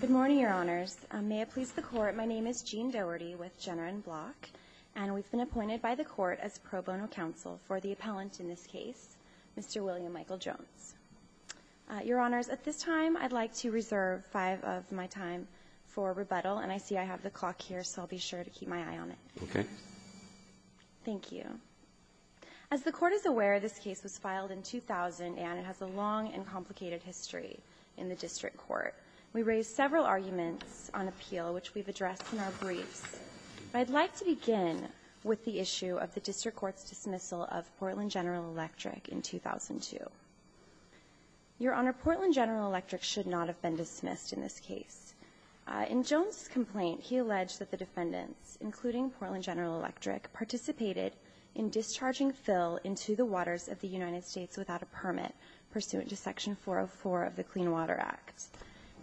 Good morning, Your Honors. May it please the Court, my name is Jean Doherty with Jenner and Block, and we've been appointed by the Court as pro bono counsel for the appellant in this case, Mr. William Michael Jones. Your Honors, at this time I'd like to reserve five of my time for rebuttal, and I see I have the clock here, so I'll be sure to keep my eye on it. Okay. Thank you. As the Court is aware, this case was filed in 2000, and it has a long and complicated history in the district court. We raised several arguments on appeal, which we've addressed in our briefs. I'd like to begin with the issue of the district court's dismissal of Portland General Electric in 2002. Your Honor, Portland General Electric should not have been dismissed in this case. In Jones' complaint, he alleged that the defendants, including Portland General Electric, participated in discharging Phil into the waters of the United States without a permit, pursuant to Section 404 of the Clean Water Act.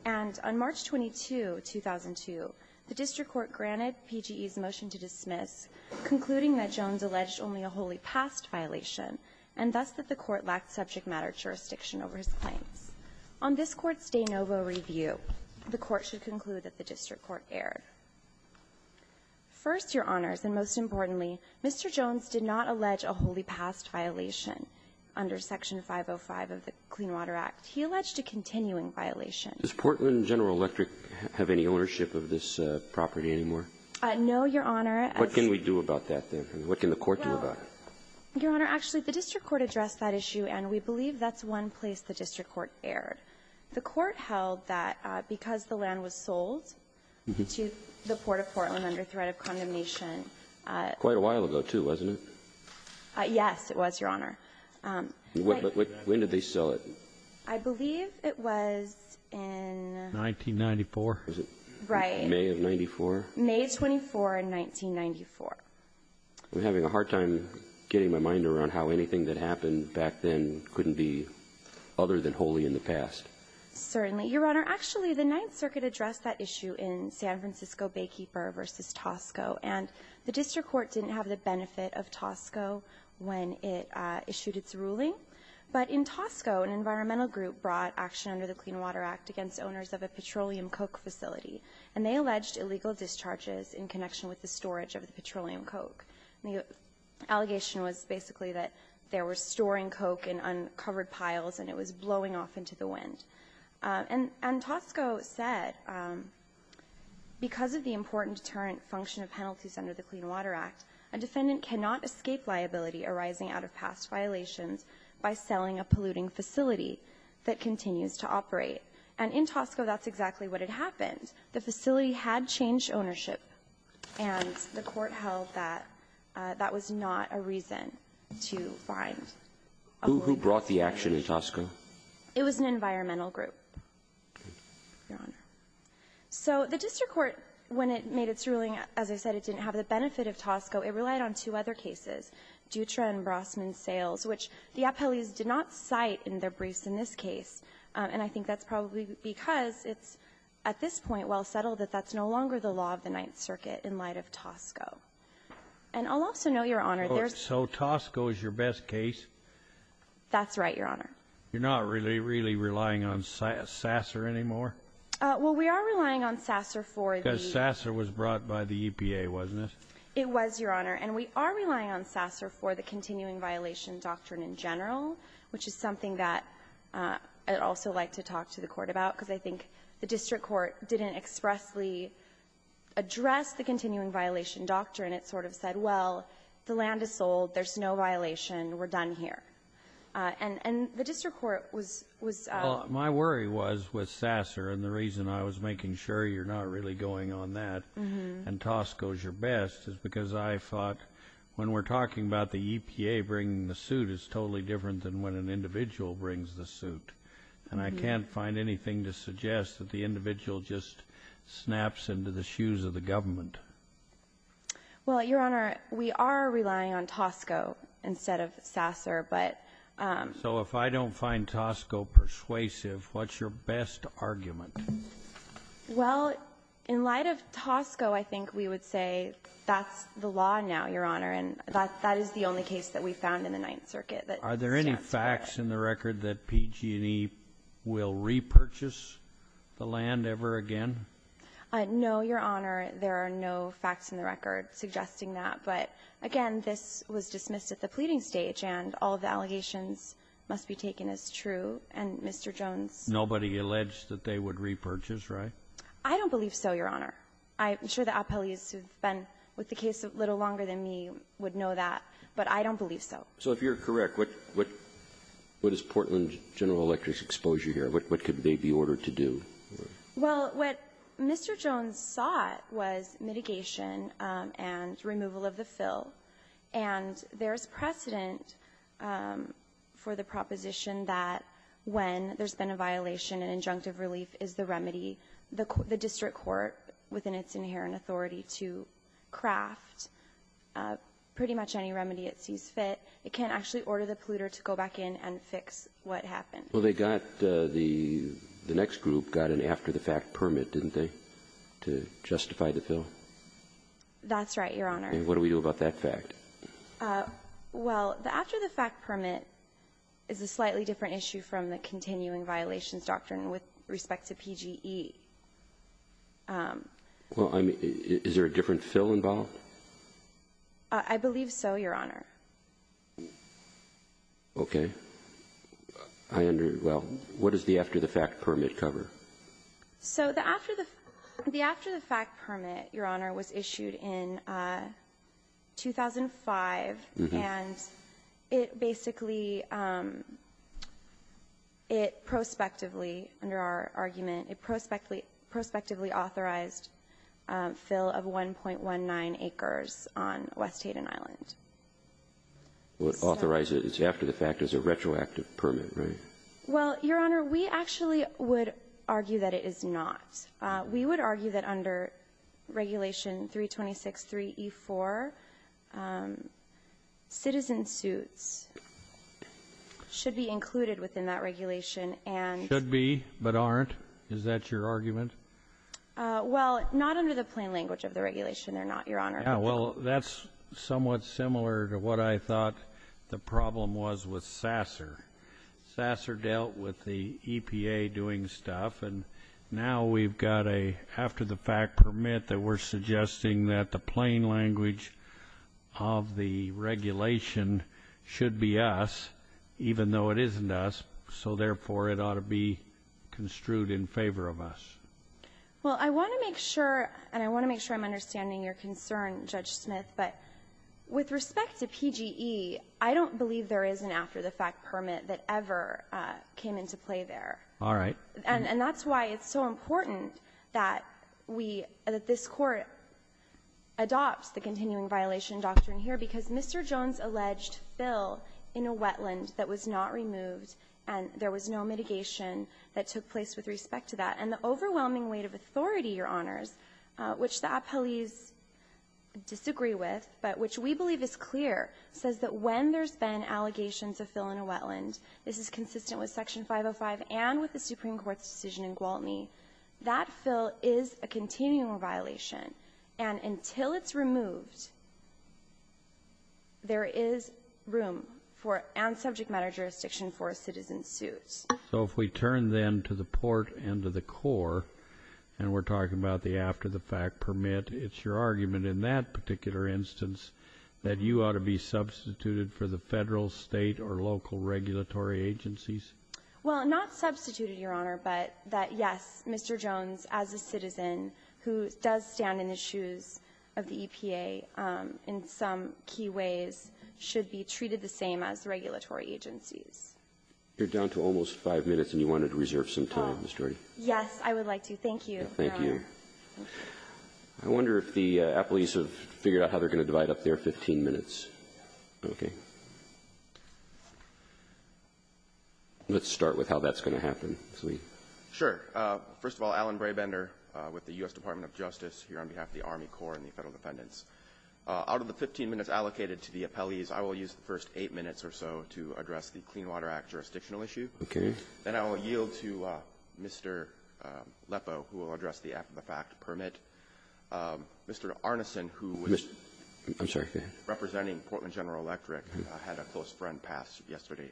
And on March 22, 2002, the district court granted PGE's motion to dismiss, concluding that Jones alleged only a wholly passed violation, and thus that the court lacked subject matter jurisdiction over his claims. On this Court's de novo review, the Court should conclude that the district court erred. First, Your Honors, and most importantly, Mr. Jones did not allege a wholly passed violation under Section 505 of the Clean Water Act. He alleged a continuing violation. Does Portland General Electric have any ownership of this property anymore? No, Your Honor. What can we do about that, then? What can the Court do about it? Your Honor, actually, the district court addressed that issue, and we believe that's one place the district court erred. The court held that because the land was sold to the Port of Portland under threat of condemnation. Quite a while ago, too, wasn't it? Yes, it was, Your Honor. When did they sell it? I believe it was in 1994. Right. May of 94? May 24, 1994. I'm having a hard time getting my mind around how anything that happened back then couldn't be other than wholly in the past. Certainly. Your Honor, actually, the Ninth Circuit addressed that issue in San Francisco Baykeeper v. Tosco, and the district court didn't have the benefit of Tosco when it issued its ruling. But in Tosco, an environmental group brought action under the Clean Water Act against owners of a petroleum coke facility, and they alleged illegal discharges in connection with the storage of the petroleum coke. The allegation was basically that they were storing coke in uncovered piles and it was blowing off into the wind. And Tosco said, because of the important deterrent function of penalties under the Clean Water Act, a defendant cannot escape liability arising out of past violations by selling a polluting facility that continues to operate. And in Tosco, that's exactly what had happened. The facility had changed ownership, and the court held that that was not a reason to find a holding facility. Who brought the action in Tosco? It was an environmental group, Your Honor. So the district court, when it made its ruling, as I said, it didn't have the benefit of Tosco. It relied on two other cases, Dutra and Brosman Sales, which the appellees did not cite in their briefs in this case. And I think that's probably because it's at this point well settled that that's no longer the law of the Ninth Circuit in light of Tosco. And I'll also note, Your Honor, there's... So Tosco is your best case? That's right, Your Honor. You're not really, really relying on Sasser anymore? Well, we are relying on Sasser for the... Because Sasser was brought by the EPA, wasn't it? It was, Your Honor. And we are relying on Sasser for the continuing violation doctrine in general, which is something that I'd also like to talk to the court about because I think the district court didn't expressly address the continuing violation doctrine. It sort of said, well, the land is sold. There's no violation. We're done here. And the district court was... Well, my worry was with Sasser, and the reason I was making sure you're not really going on that and Tosco's your best is because I thought when we're talking about the EPA bringing the suit, it's totally different than when an individual brings the suit. And I can't find anything to suggest that the individual just snaps into the shoes of the government. Well, Your Honor, we are relying on Tosco instead of Sasser, but... So if I don't find Tosco persuasive, what's your best argument? Well, in light of Tosco, I think we would say that's the law now, Your Honor, and that is the only case that we found in the Ninth Circuit that... Are there any facts in the record that PG&E will repurchase the land ever again? No, Your Honor. There are no facts in the record suggesting that. But, again, this was dismissed at the pleading stage, and all the allegations must be taken as true. And Mr. Jones... I don't believe so, Your Honor. I'm sure the appellees who have been with the case a little longer than me would know that, but I don't believe so. So if you're correct, what is Portland General Electric's exposure here? What could they be ordered to do? Well, what Mr. Jones sought was mitigation and removal of the fill, and there's precedent for the proposition that when there's been a violation, an injunctive relief is the remedy the district court, within its inherent authority, to craft pretty much any remedy it sees fit. It can't actually order the polluter to go back in and fix what happened. Well, they got the next group got an after-the-fact permit, didn't they, to justify the fill? That's right, Your Honor. And what do we do about that fact? Well, the after-the-fact permit is a slightly different issue from the after-the-fact permit with respect to PGE. Well, is there a different fill involved? I believe so, Your Honor. Okay. Well, what does the after-the-fact permit cover? So the after-the-fact permit, Your Honor, was issued in 2005, and it basically it prospectively, under our argument, it prospectively authorized fill of 1.19 acres on West Hayden Island. Well, it authorizes after-the-fact as a retroactive permit, right? Well, Your Honor, we actually would argue that it is not. We would argue that under Regulation 326.3E4, citizen suits should be included within that regulation. Should be but aren't? Is that your argument? Well, not under the plain language of the regulation. They're not, Your Honor. Yeah, well, that's somewhat similar to what I thought the problem was with Sasser. Sasser dealt with the EPA doing stuff, and now we've got an after-the-fact permit that we're suggesting that the plain language of the regulation should be us, even though it isn't us, so therefore, it ought to be construed in favor of us. Well, I want to make sure, and I want to make sure I'm understanding your concern, Judge Smith, but with respect to PGE, I don't believe there is an after-the-fact permit that ever came into play there. All right. And that's why it's so important that we, that this Court adopts the continuing violation doctrine here, because Mr. Jones alleged Phil in a wetland that was not removed, and there was no mitigation that took place with respect to that. And the overwhelming weight of authority, Your Honors, which the appellees disagree with, but which we believe is clear, says that when there's been allegations of Phil in a wetland, this is consistent with Section 505 and with the Supreme Court's decision in Gwaltney, that Phil is a continuing violation. And until it's removed, there is room for, and subject matter jurisdiction for, a citizen's suit. So if we turn, then, to the Port and to the Corps, and we're talking about the after-the-fact permit, it's your argument in that particular instance that you ought to be substituted for the Federal, State, or local regulatory agencies? Well, not substituted, Your Honor, but that, yes, Mr. Jones, as a citizen who does stand in the shoes of the EPA in some key ways, should be treated the same as the regulatory agencies. You're down to almost five minutes, and you wanted to reserve some time, Ms. Jorde. Yes, I would like to. Thank you, Your Honor. Thank you. I wonder if the appellees have figured out how they're going to divide up their 15 minutes. Okay. Let's start with how that's going to happen. Sure. First of all, Alan Brabender with the U.S. Department of Justice here on behalf of the Army Corps and the Federal Defendants. Out of the 15 minutes allocated to the appellees, I will use the first eight minutes or so to address the Clean Water Act jurisdictional issue. Okay. Then I will yield to Mr. Lepo, who will address the act-of-the-fact permit. Mr. Arneson, who was representing Portland General Electric, had a close friend pass yesterday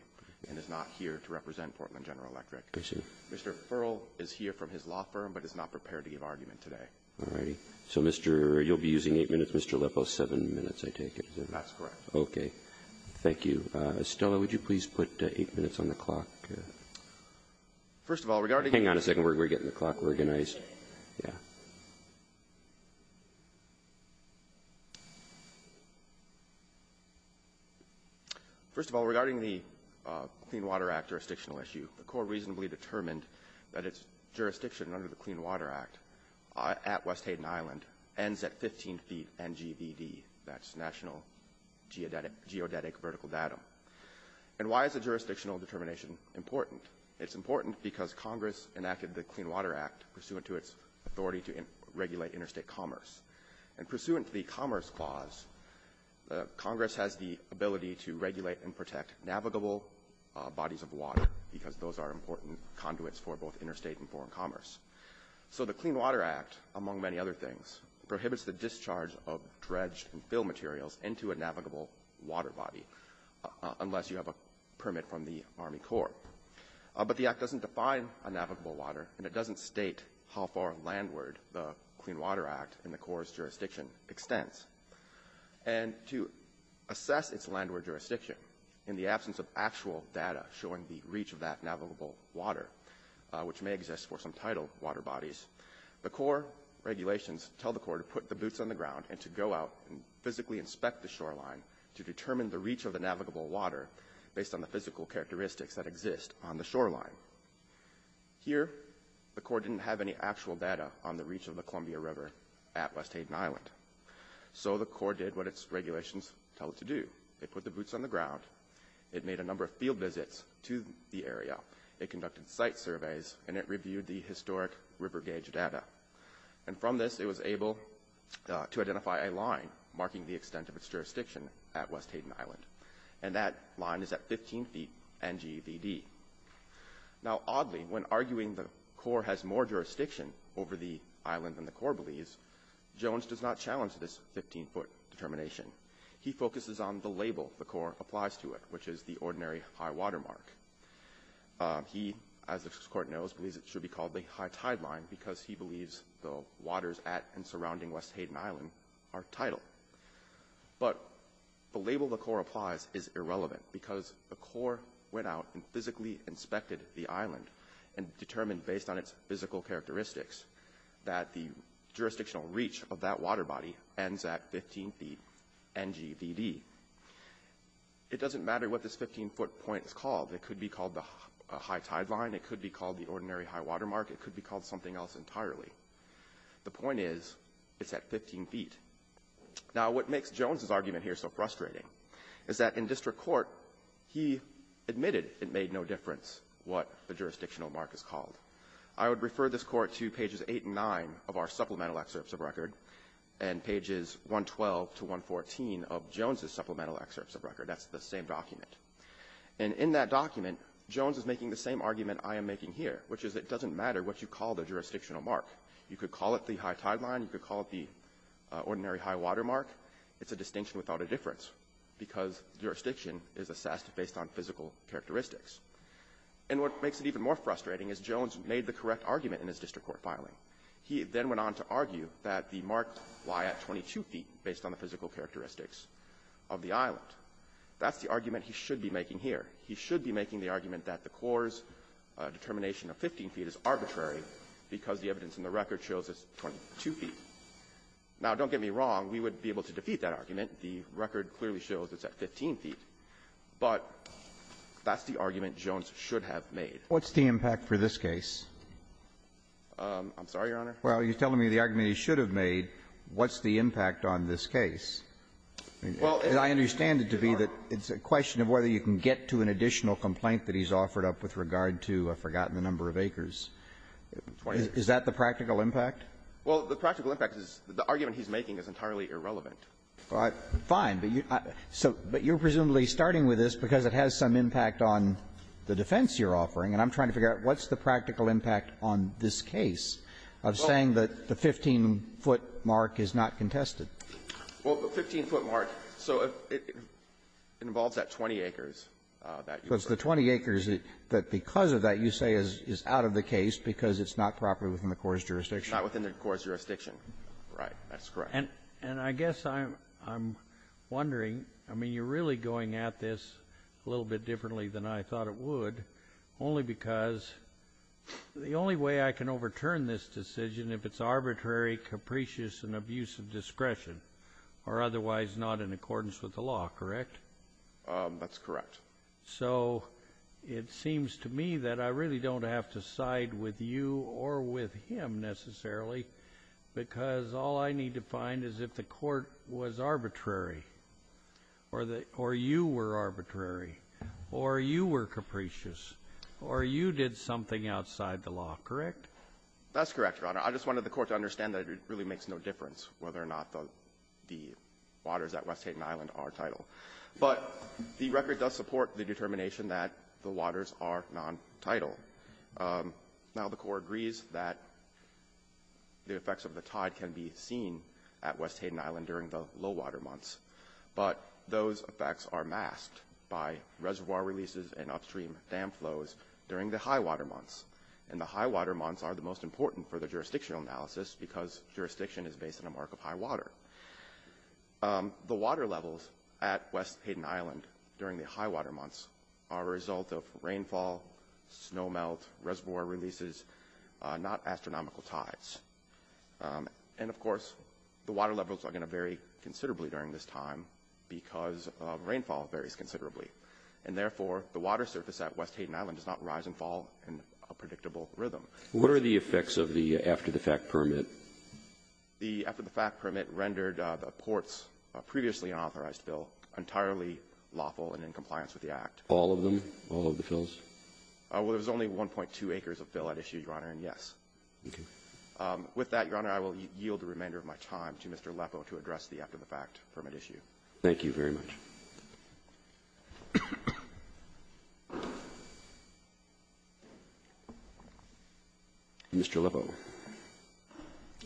and is not here to represent Portland General Electric. I see. Mr. Furl is here from his law firm, but is not prepared to give argument today. All right. So, Mr. You'll be using eight minutes. Mr. Lepo, seven minutes, I take it. That's correct. Okay. Thank you. Estella, would you please put eight minutes on the clock? Hang on a second. We're getting the clock organized. Yeah. First of all, regarding the Clean Water Act jurisdictional issue, the Corps reasonably determined that its jurisdiction under the Clean Water Act at West 18 feet NGVD, that's National Geodetic Vertical Datum. And why is the jurisdictional determination important? It's important because Congress enacted the Clean Water Act pursuant to its authority to regulate interstate commerce. And pursuant to the Commerce Clause, Congress has the ability to regulate and protect navigable bodies of water because those are important conduits for both interstate and foreign commerce. So the Clean Water Act, among many other things, prohibits the discharge of dredge and fill materials into a navigable water body unless you have a permit from the Army Corps. But the Act doesn't define a navigable water and it doesn't state how far landward the Clean Water Act in the Corps' jurisdiction extends. And to assess its landward jurisdiction in the absence of actual data showing the reach of that navigable water, which may exist for some tidal water bodies, the Corps' regulations tell the Corps to put the boots on the ground and to go out and physically inspect the shoreline to determine the reach of the navigable water based on the physical characteristics that exist on the shoreline. Here, the Corps didn't have any actual data on the reach of the Columbia River at West Haden Island. So the Corps did what its regulations tell it to do. It put the boots on the ground. It made a number of field visits to the area. It conducted site surveys and it reviewed the historic river gauge data. And from this, it was able to identify a line marking the extent of its jurisdiction at West Haden Island. And that line is at 15 feet NGVD. Now, oddly, when arguing the Corps has more jurisdiction over the island than the Corps believes, Jones does not challenge this 15-foot determination. He focuses on the label the Corps applies to it, which is the ordinary high water mark. He, as this Court knows, believes it should be called the high tideline because he believes the waters at and surrounding West Haden Island are tidal. But the label the Corps applies is irrelevant because the Corps went out and physically inspected the island and determined based on its physical characteristics that the jurisdictional reach of that water body ends at 15 feet NGVD. It doesn't matter what this 15-foot point is called. It could be called the high tideline. It could be called the ordinary high water mark. It could be called something else entirely. The point is it's at 15 feet. Now, what makes Jones' argument here so frustrating is that in district court, he admitted it made no difference what the jurisdictional mark is called. I would refer this Court to pages 8 and 9 of our supplemental excerpts of record and pages 112 to 114 of Jones' supplemental excerpts of record. That's the same document. And in that document, Jones is making the same argument I am making here, which is it doesn't matter what you call the jurisdictional mark. You could call it the high tideline. You could call it the ordinary high water mark. It's a distinction without a difference because jurisdiction is assessed based on physical characteristics. And what makes it even more frustrating is Jones made the correct argument in his district court filing. He then went on to argue that the marks lie at 22 feet based on the physical characteristics of the island. That's the argument he should be making here. He should be making the argument that the Corps' determination of 15 feet is arbitrary because the evidence in the record shows it's 22 feet. Now, don't get me wrong. We would be able to defeat that argument. The record clearly shows it's at 15 feet. But that's the argument Jones should have made. What's the impact for this case? I'm sorry, Your Honor. Well, you're telling me the argument he should have made. What's the impact on this case? Well, I understand it to be that it's a question of whether you can get to an additional complaint that he's offered up with regard to a forgotten number of acres. Is that the practical impact? Well, the practical impact is the argument he's making is entirely irrelevant. Fine. But you're presumably starting with this because it has some impact on the defense you're offering. And I'm trying to figure out what's the practical impact on this case of saying that the 15-foot mark is not contested. Well, the 15-foot mark, so it involves that 20 acres. Because the 20 acres that because of that you say is out of the case because it's not properly within the Corps' jurisdiction. It's not within the Corps' jurisdiction. Right. That's correct. And I guess I'm wondering, I mean, you're really going at this a little bit differently than I thought it would only because the only way I can overturn this decision, if it's arbitrary, capricious, and abuse of discretion, or otherwise not in accordance with the law, correct? That's correct. So it seems to me that I really don't have to side with you or with him necessarily because all I need to find is if the court was arbitrary or you were arbitrary or you were capricious or you did something outside the law, correct? That's correct, Your Honor. I just wanted the court to understand that it really makes no difference whether or not the waters at West Hayden Island are title. But the record does support the determination that the waters are non-title. Now, the Corps agrees that the effects of the tide can be seen at West Hayden Island during the low-water months. But those effects are masked by reservoir releases and upstream dam flows during the high-water months. And the high-water months are the most important for the jurisdictional analysis because jurisdiction is based on a mark of high water. The water levels at West Hayden Island during the high-water months are a result of rainfall, snowmelt, reservoir releases, not astronomical tides. And, of course, the water levels are going to vary considerably during this time because rainfall varies considerably. And, therefore, the water surface at West Hayden Island does not rise and fall in a predictable rhythm. What are the effects of the after-the-fact permit? The after-the-fact permit rendered the port's previously unauthorized fill entirely lawful and in compliance with the Act. All of them, all of the fills? Well, there was only 1.2 acres of fill at issue, Your Honor, and yes. Okay. With that, Your Honor, I will yield the remainder of my time to Mr. Lepo to address the after-the-fact permit issue. Thank you very much. Mr. Lepo.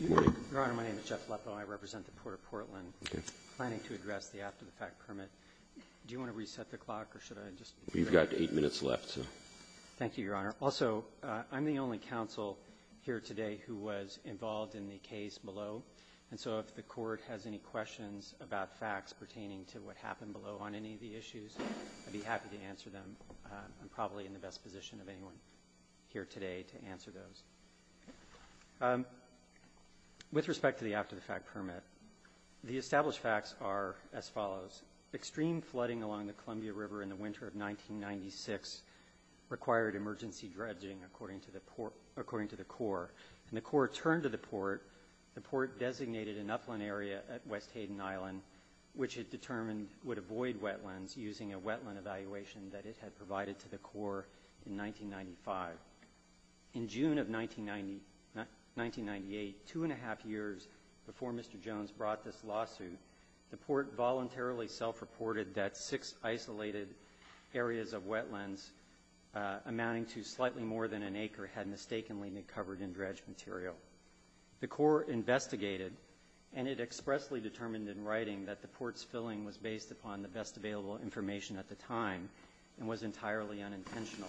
Good morning. Your Honor, my name is Jeff Lepo. I represent the Port of Portland. Okay. Planning to address the after-the-fact permit. Do you want to reset the clock or should I just? You've got eight minutes left, so. Thank you, Your Honor. Also, I'm the only counsel here today who was involved in the case below, and so if the Court has any questions about facts pertaining to what happened below on any of the issues, I'd be happy to answer them. I'm probably in the best position of anyone here today to answer those. With respect to the after-the-fact permit, the established facts are as follows. Extreme flooding along the Columbia River in the winter of 1996 required emergency dredging, according to the Corps. When the Corps turned to the Port, the Port designated an upland area at West Hayden Island, which it determined would avoid wetlands using a wetland evaluation that it had provided to the Corps in 1995. In June of 1998, two and a half years before Mr. Jones brought this lawsuit, the Port voluntarily self-reported that six isolated areas of wetlands amounting to slightly more than an acre had mistakenly been covered in dredged material. The Corps investigated, and it expressly determined in writing that the Port's filling was based upon the best available information at the time and was entirely unintentional.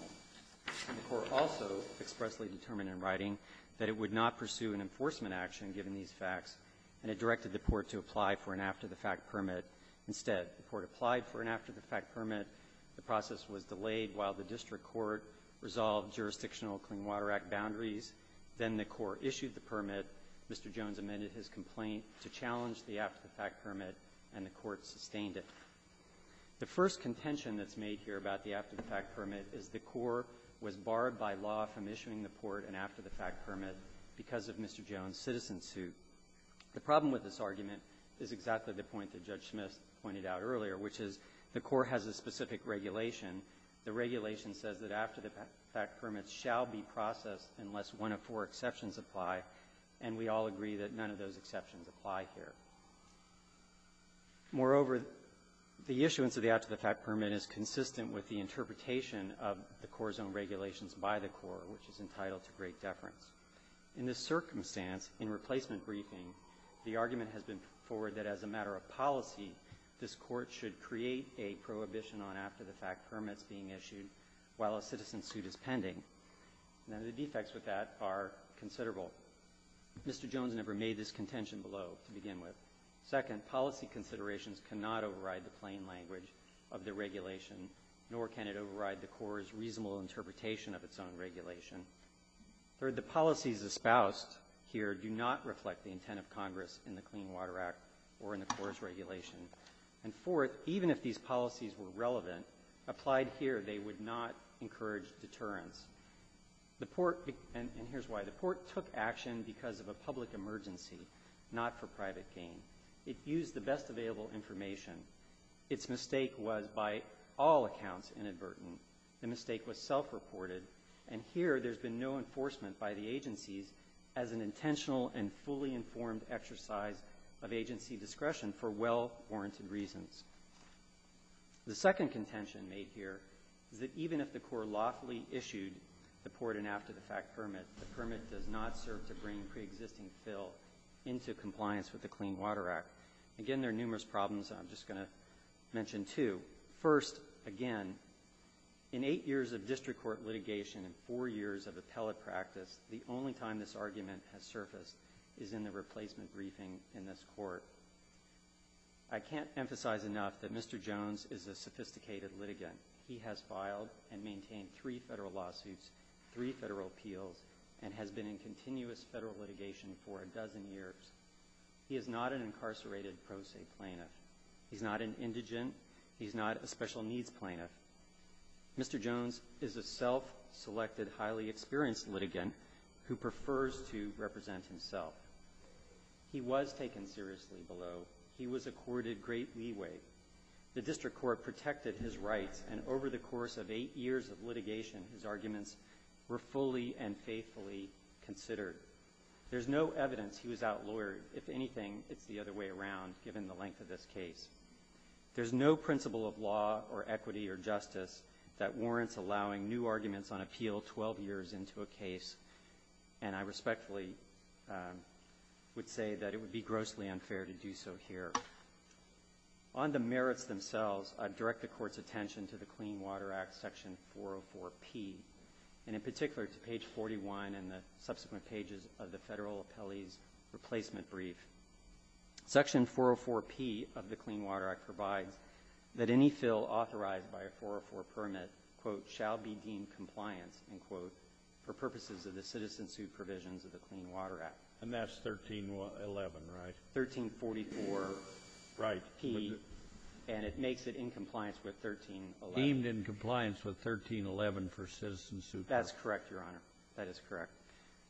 The Corps also expressly determined in writing that it would not pursue an enforcement action given these facts, and it directed the Port to apply for an after-the-fact permit. Instead, the Port applied for an after-the-fact permit. The process was delayed while the district court resolved jurisdictional Clean Water Act boundaries. Then the Corps issued the permit. Mr. Jones amended his complaint to challenge the after-the-fact permit, and the Court sustained it. The first contention that's made here about the after-the-fact permit is the Corps was barred by law from issuing the Port an after-the-fact permit because of Mr. Jones' citizen suit. The problem with this argument is exactly the point that Judge Smith pointed out earlier, which is the Corps has a specific regulation. The regulation says that after-the-fact permits shall be processed unless one of four exceptions apply, and we all agree that none of those exceptions apply here. Moreover, the issuance of the after-the-fact permit is consistent with the interpretation of the Corps' own regulations by the Corps, which is entitled to great deference. In this circumstance, in replacement briefing, the argument has been forwarded that as a matter of policy, this Court should create a prohibition on after-the-fact permits being issued while a citizen suit is pending. Now, the defects with that are considerable. Mr. Jones never made this contention below to begin with. Second, policy considerations cannot override the plain language of the regulation, nor can it override the Corps' reasonable interpretation of its own regulation. Third, the policies espoused here do not reflect the intent of Congress in the Clean Water Act or in the Corps' regulation. And fourth, even if these policies were relevant, applied here they would not encourage deterrence. And here's why. The Port took action because of a public emergency, not for private gain. It used the best available information. Its mistake was, by all accounts, inadvertent. The mistake was self-reported, and here there's been no enforcement by the agencies as an intentional and fully informed exercise of agency discretion for well-warranted reasons. The second contention made here is that even if the Corps lawfully issued the Port and after-the-fact permit, the permit does not serve to bring pre-existing fill into compliance with the Clean Water Act. Again, there are numerous problems, and I'm just going to mention two. First, again, in eight years of district court litigation and four years of appellate practice, the only time this argument has surfaced is in the replacement briefing in this Court. I can't emphasize enough that Mr. Jones is a sophisticated litigant. He has filed and maintained three federal lawsuits, three federal appeals, and has been in continuous federal litigation for a dozen years. He is not an incarcerated pro se plaintiff. He's not an indigent. He's not a special needs plaintiff. Mr. Jones is a self-selected, highly experienced litigant who prefers to represent himself. He was taken seriously below. He was accorded great leeway. The district court protected his rights, and over the course of eight years of litigation, his arguments were fully and faithfully considered. There's no evidence he was outlawed. If anything, it's the other way around, given the length of this case. There's no principle of law or equity or justice that warrants allowing new arguments on appeal 12 years into a case, and I respectfully would say that it would be grossly unfair to do so here. On the merits themselves, I'd direct the Court's attention to the Clean Water Act, Section 404P, and in particular to page 41 and the subsequent pages of the federal appellee's replacement brief. Section 404P of the Clean Water Act provides that any fill authorized by a 404 permit, quote, shall be deemed compliant, end quote, for purposes of the citizen suit provisions of the Clean Water Act. And that's 1311, right? 1344P, and it makes it in compliance with 1311. Deemed in compliance with 1311 for citizen suit. That's correct, Your Honor. That is correct.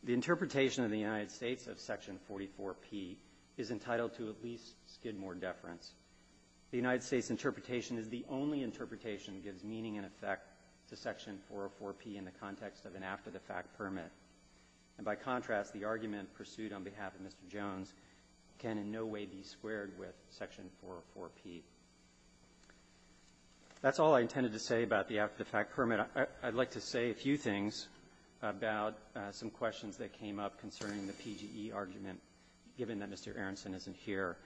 The interpretation of the United States of Section 44P is entitled to at least skid more deference. The United States interpretation is the only interpretation that gives meaning and effect to Section 404P in the context of an after-the-fact permit. And by contrast, the argument pursued on behalf of Mr. Jones can in no way be squared with Section 404P. That's all I intended to say about the after-the-fact permit. I'd like to say a few things about some questions that came up concerning the PGE argument, given that Mr. Aronson isn't here.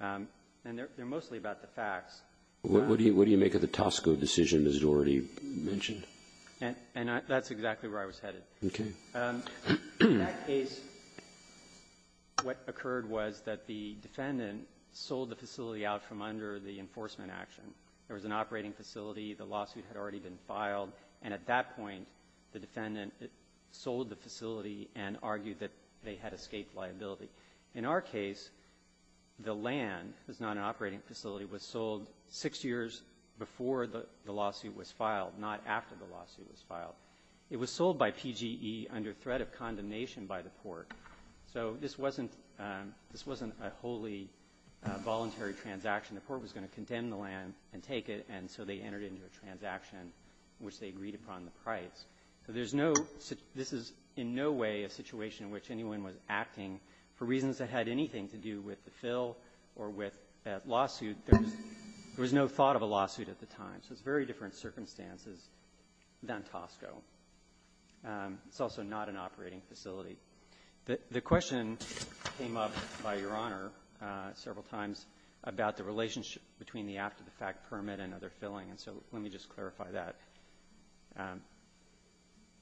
And they're mostly about the facts. What do you make of the Tosco decision, as you already mentioned? And that's exactly where I was headed. Okay. In that case, what occurred was that the defendant sold the facility out from under the enforcement action. There was an operating facility. The lawsuit had already been filed. And at that point, the defendant sold the facility and argued that they had escaped liability. In our case, the land was not an operating facility. It was sold six years before the lawsuit was filed, not after the lawsuit was filed. It was sold by PGE under threat of condemnation by the court. So this wasn't a wholly voluntary transaction. The court was going to condemn the land and take it, and so they entered into a transaction in which they agreed upon the price. So there's no – this is in no way a situation in which anyone was acting for reasons that had anything to do with the fill or with that lawsuit. There was no thought of a lawsuit at the time. So it's very different circumstances than Tosco. It's also not an operating facility. The question came up by Your Honor several times about the relationship between the after-the-fact permit and other filling, and so let me just clarify that.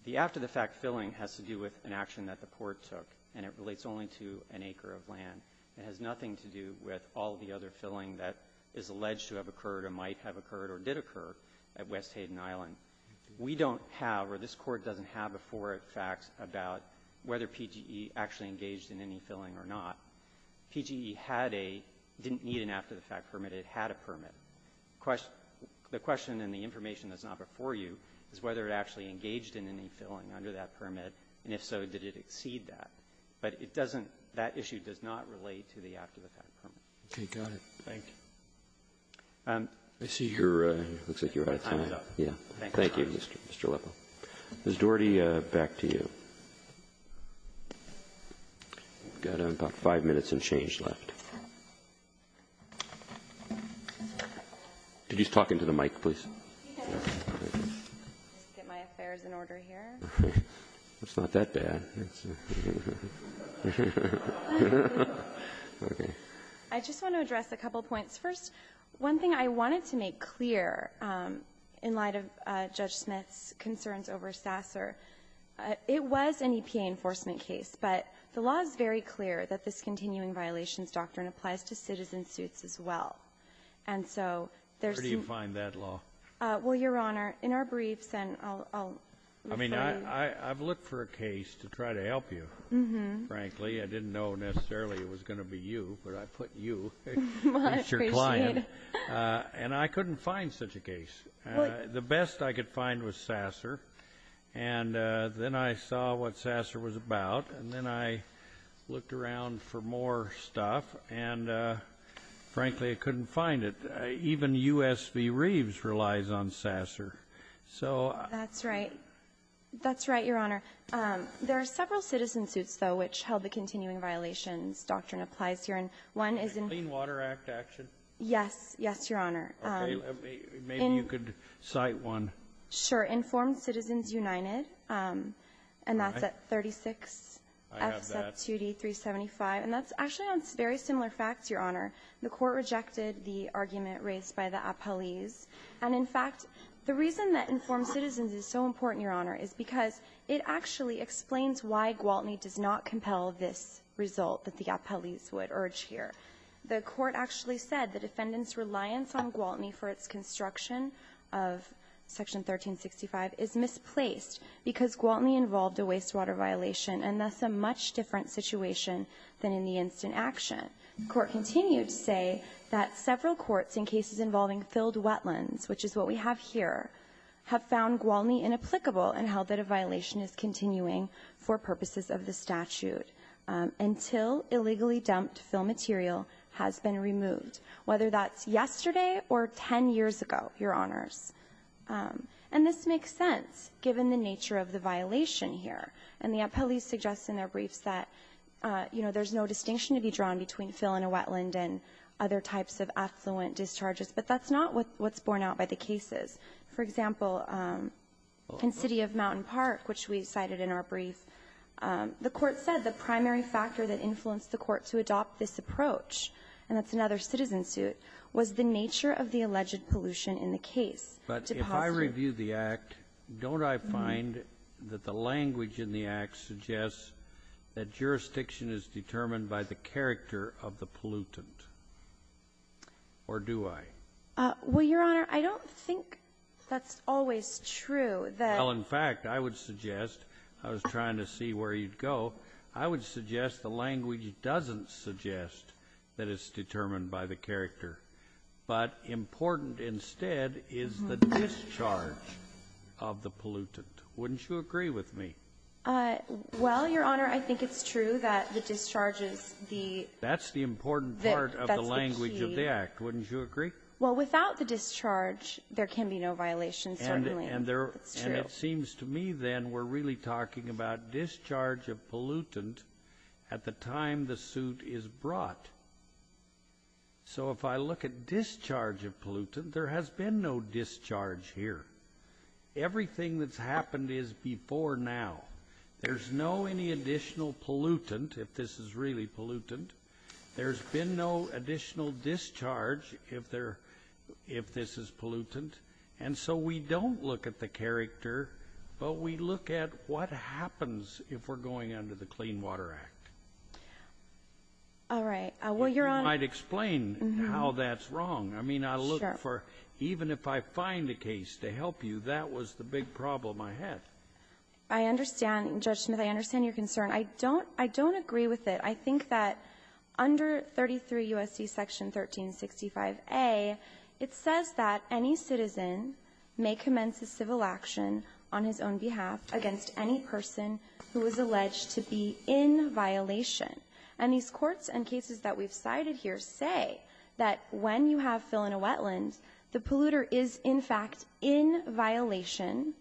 The after-the-fact filling has to do with an action that the court took, and it relates only to an acre of land. It has nothing to do with all the other filling that is alleged to have occurred or might have occurred or did occur at West Hayden Island. We don't have, or this court doesn't have, before it facts about whether PGE actually engaged in any filling or not. PGE had a – didn't need an after-the-fact permit. It had a permit. The question and the information that's not before you is whether it actually engaged in any filling under that permit, and if so, did it exceed that. But it doesn't – that issue does not relate to the after-the-fact permit. Okay, got it. Thank you. I see you're – looks like you're out of time. My time's up. Yeah. Thank you, Mr. Lippo. Ms. Doherty, back to you. We've got about five minutes of change left. Could you just talk into the mic, please? Get my affairs in order here. It's not that bad. I just want to address a couple points. First, one thing I wanted to make clear in light of Judge Smith's concerns over Sasser, it was an EPA enforcement case, but the law is very clear that this continuing violations doctrine applies to citizen suits as well. And so there's some – Where do you find that law? Well, Your Honor, in our briefs, and I'll – I mean, I've looked for a case to try to help you, frankly. I didn't know necessarily it was going to be you, but I put you, Mr. Klein, and I couldn't find such a case. The best I could find was Sasser, and then I saw what Sasser was about, and then I looked around for more stuff, and frankly, I couldn't find it. Even U.S. v. Reeves relies on Sasser. That's right. That's right, Your Honor. There are several citizen suits, though, which held the continuing violations doctrine applies here. And one is in – The Clean Water Act action? Yes. Yes, Your Honor. Okay. Maybe you could cite one. Sure. Informed Citizens United, and that's at 36 F. Sup. 2D. 375. And that's actually on very similar facts, Your Honor. The court rejected the argument raised by the appellees. And in fact, the reason that informed citizens is so important, Your Honor, is because it actually explains why Gwaltney does not compel this result that the appellees would urge here. The court actually said the defendant's reliance on Gwaltney for its construction of Section 1365 is misplaced because Gwaltney involved a wastewater violation and thus a much different situation than in the instant action. The court continued to say that several courts in cases involving filled wetlands, which is what we have here, have found Gwaltney inapplicable and held that a violation is continuing for purposes of the statute until illegally dumped fill material has been removed, whether that's yesterday or 10 years ago, Your Honors. And this makes sense given the nature of the violation here. And the appellees suggest in their briefs that, you know, there's no distinction to be drawn between fill in a wetland and other types of affluent discharges. But that's not what's borne out by the cases. For example, in City of Mountain Park, which we cited in our brief, the court said the primary factor that influenced the court to adopt this approach, and that's another citizen suit, was the nature of the alleged pollution in the case. But if I review the Act, don't I find that the language in the Act suggests that jurisdiction is determined by the character of the pollutant, or do I? Well, Your Honor, I don't think that's always true. Well, in fact, I would suggest, I was trying to see where you'd go, I would suggest the language doesn't suggest that it's determined by the character, but important instead is the discharge of the pollutant. Wouldn't you agree with me? Well, Your Honor, I think it's true that the discharge is the key. That's the important part of the language of the Act. Wouldn't you agree? Well, without the discharge, there can be no violations, certainly. And it seems to me, then, we're really talking about discharge of pollutant at the time the suit is brought. So if I look at discharge of pollutant, there has been no discharge here. Everything that's happened is before now. There's no any additional pollutant, if this is really pollutant. There's been no additional discharge, if this is pollutant. And so we don't look at the character, but we look at what happens if we're going under the Clean Water Act. All right. Well, Your Honor ---- If you might explain how that's wrong. I mean, I look for ---- Sure. Even if I find a case to help you, that was the big problem I had. I understand, Judge Smith. I understand your concern. I don't agree with it. I think that under 33 U.S.C. Section 1365a, it says that any citizen may commence a civil action on his own behalf against any person who is alleged to be in violation. And these courts and cases that we've cited here say that when you have fill in a wetland, the polluter is, in fact, in violation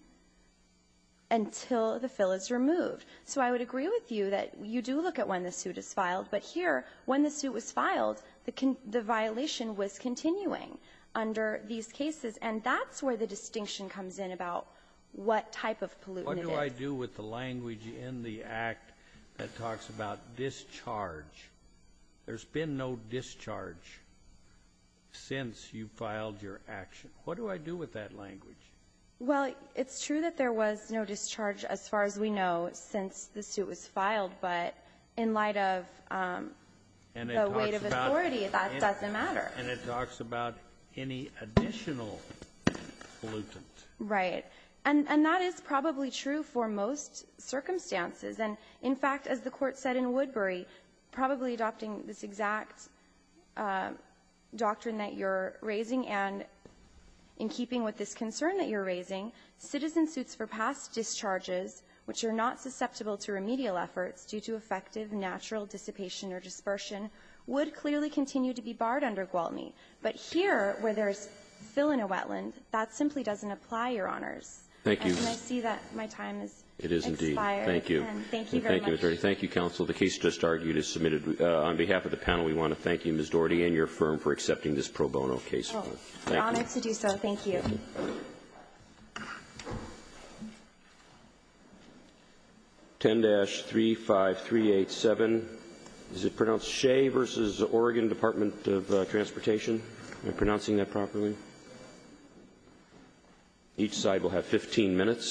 until the fill is removed. So I would agree with you that you do look at when the suit is filed. But here, when the suit was filed, the violation was continuing under these cases. And that's where the distinction comes in about what type of pollutant it is. What do I do with the language in the Act that talks about discharge? There's been no discharge since you filed your action. What do I do with that language? Well, it's true that there was no discharge, as far as we know, since the suit was filed. But in light of the weight of authority, that doesn't matter. And it talks about any additional pollutant. Right. And that is probably true for most circumstances. And, in fact, as the Court said in Woodbury, probably adopting this exact doctrine that you're raising and in keeping with this concern that you're raising, citizen suits for past discharges, which are not susceptible to remedial efforts due to effective natural dissipation or dispersion, would clearly continue to be barred under Gwaltney. But here, where there's fill-in-a-wetland, that simply doesn't apply, Your Honors. Thank you. And I see that my time has expired. It is indeed. Thank you. Thank you very much. Thank you, attorney. Thank you, counsel. The case just argued is submitted. On behalf of the panel, we want to thank you, Ms. Doherty, and your firm for accepting this pro bono case. Honored to do so. Thank you. The case has been submitted. Thank you, Your Honor. Thank you. Thank you. Thank you. Thank you. 10-35387. Is it pronounced Shea versus Oregon Department of Transportation? Am I pronouncing that properly? Each side will have 15 minutes.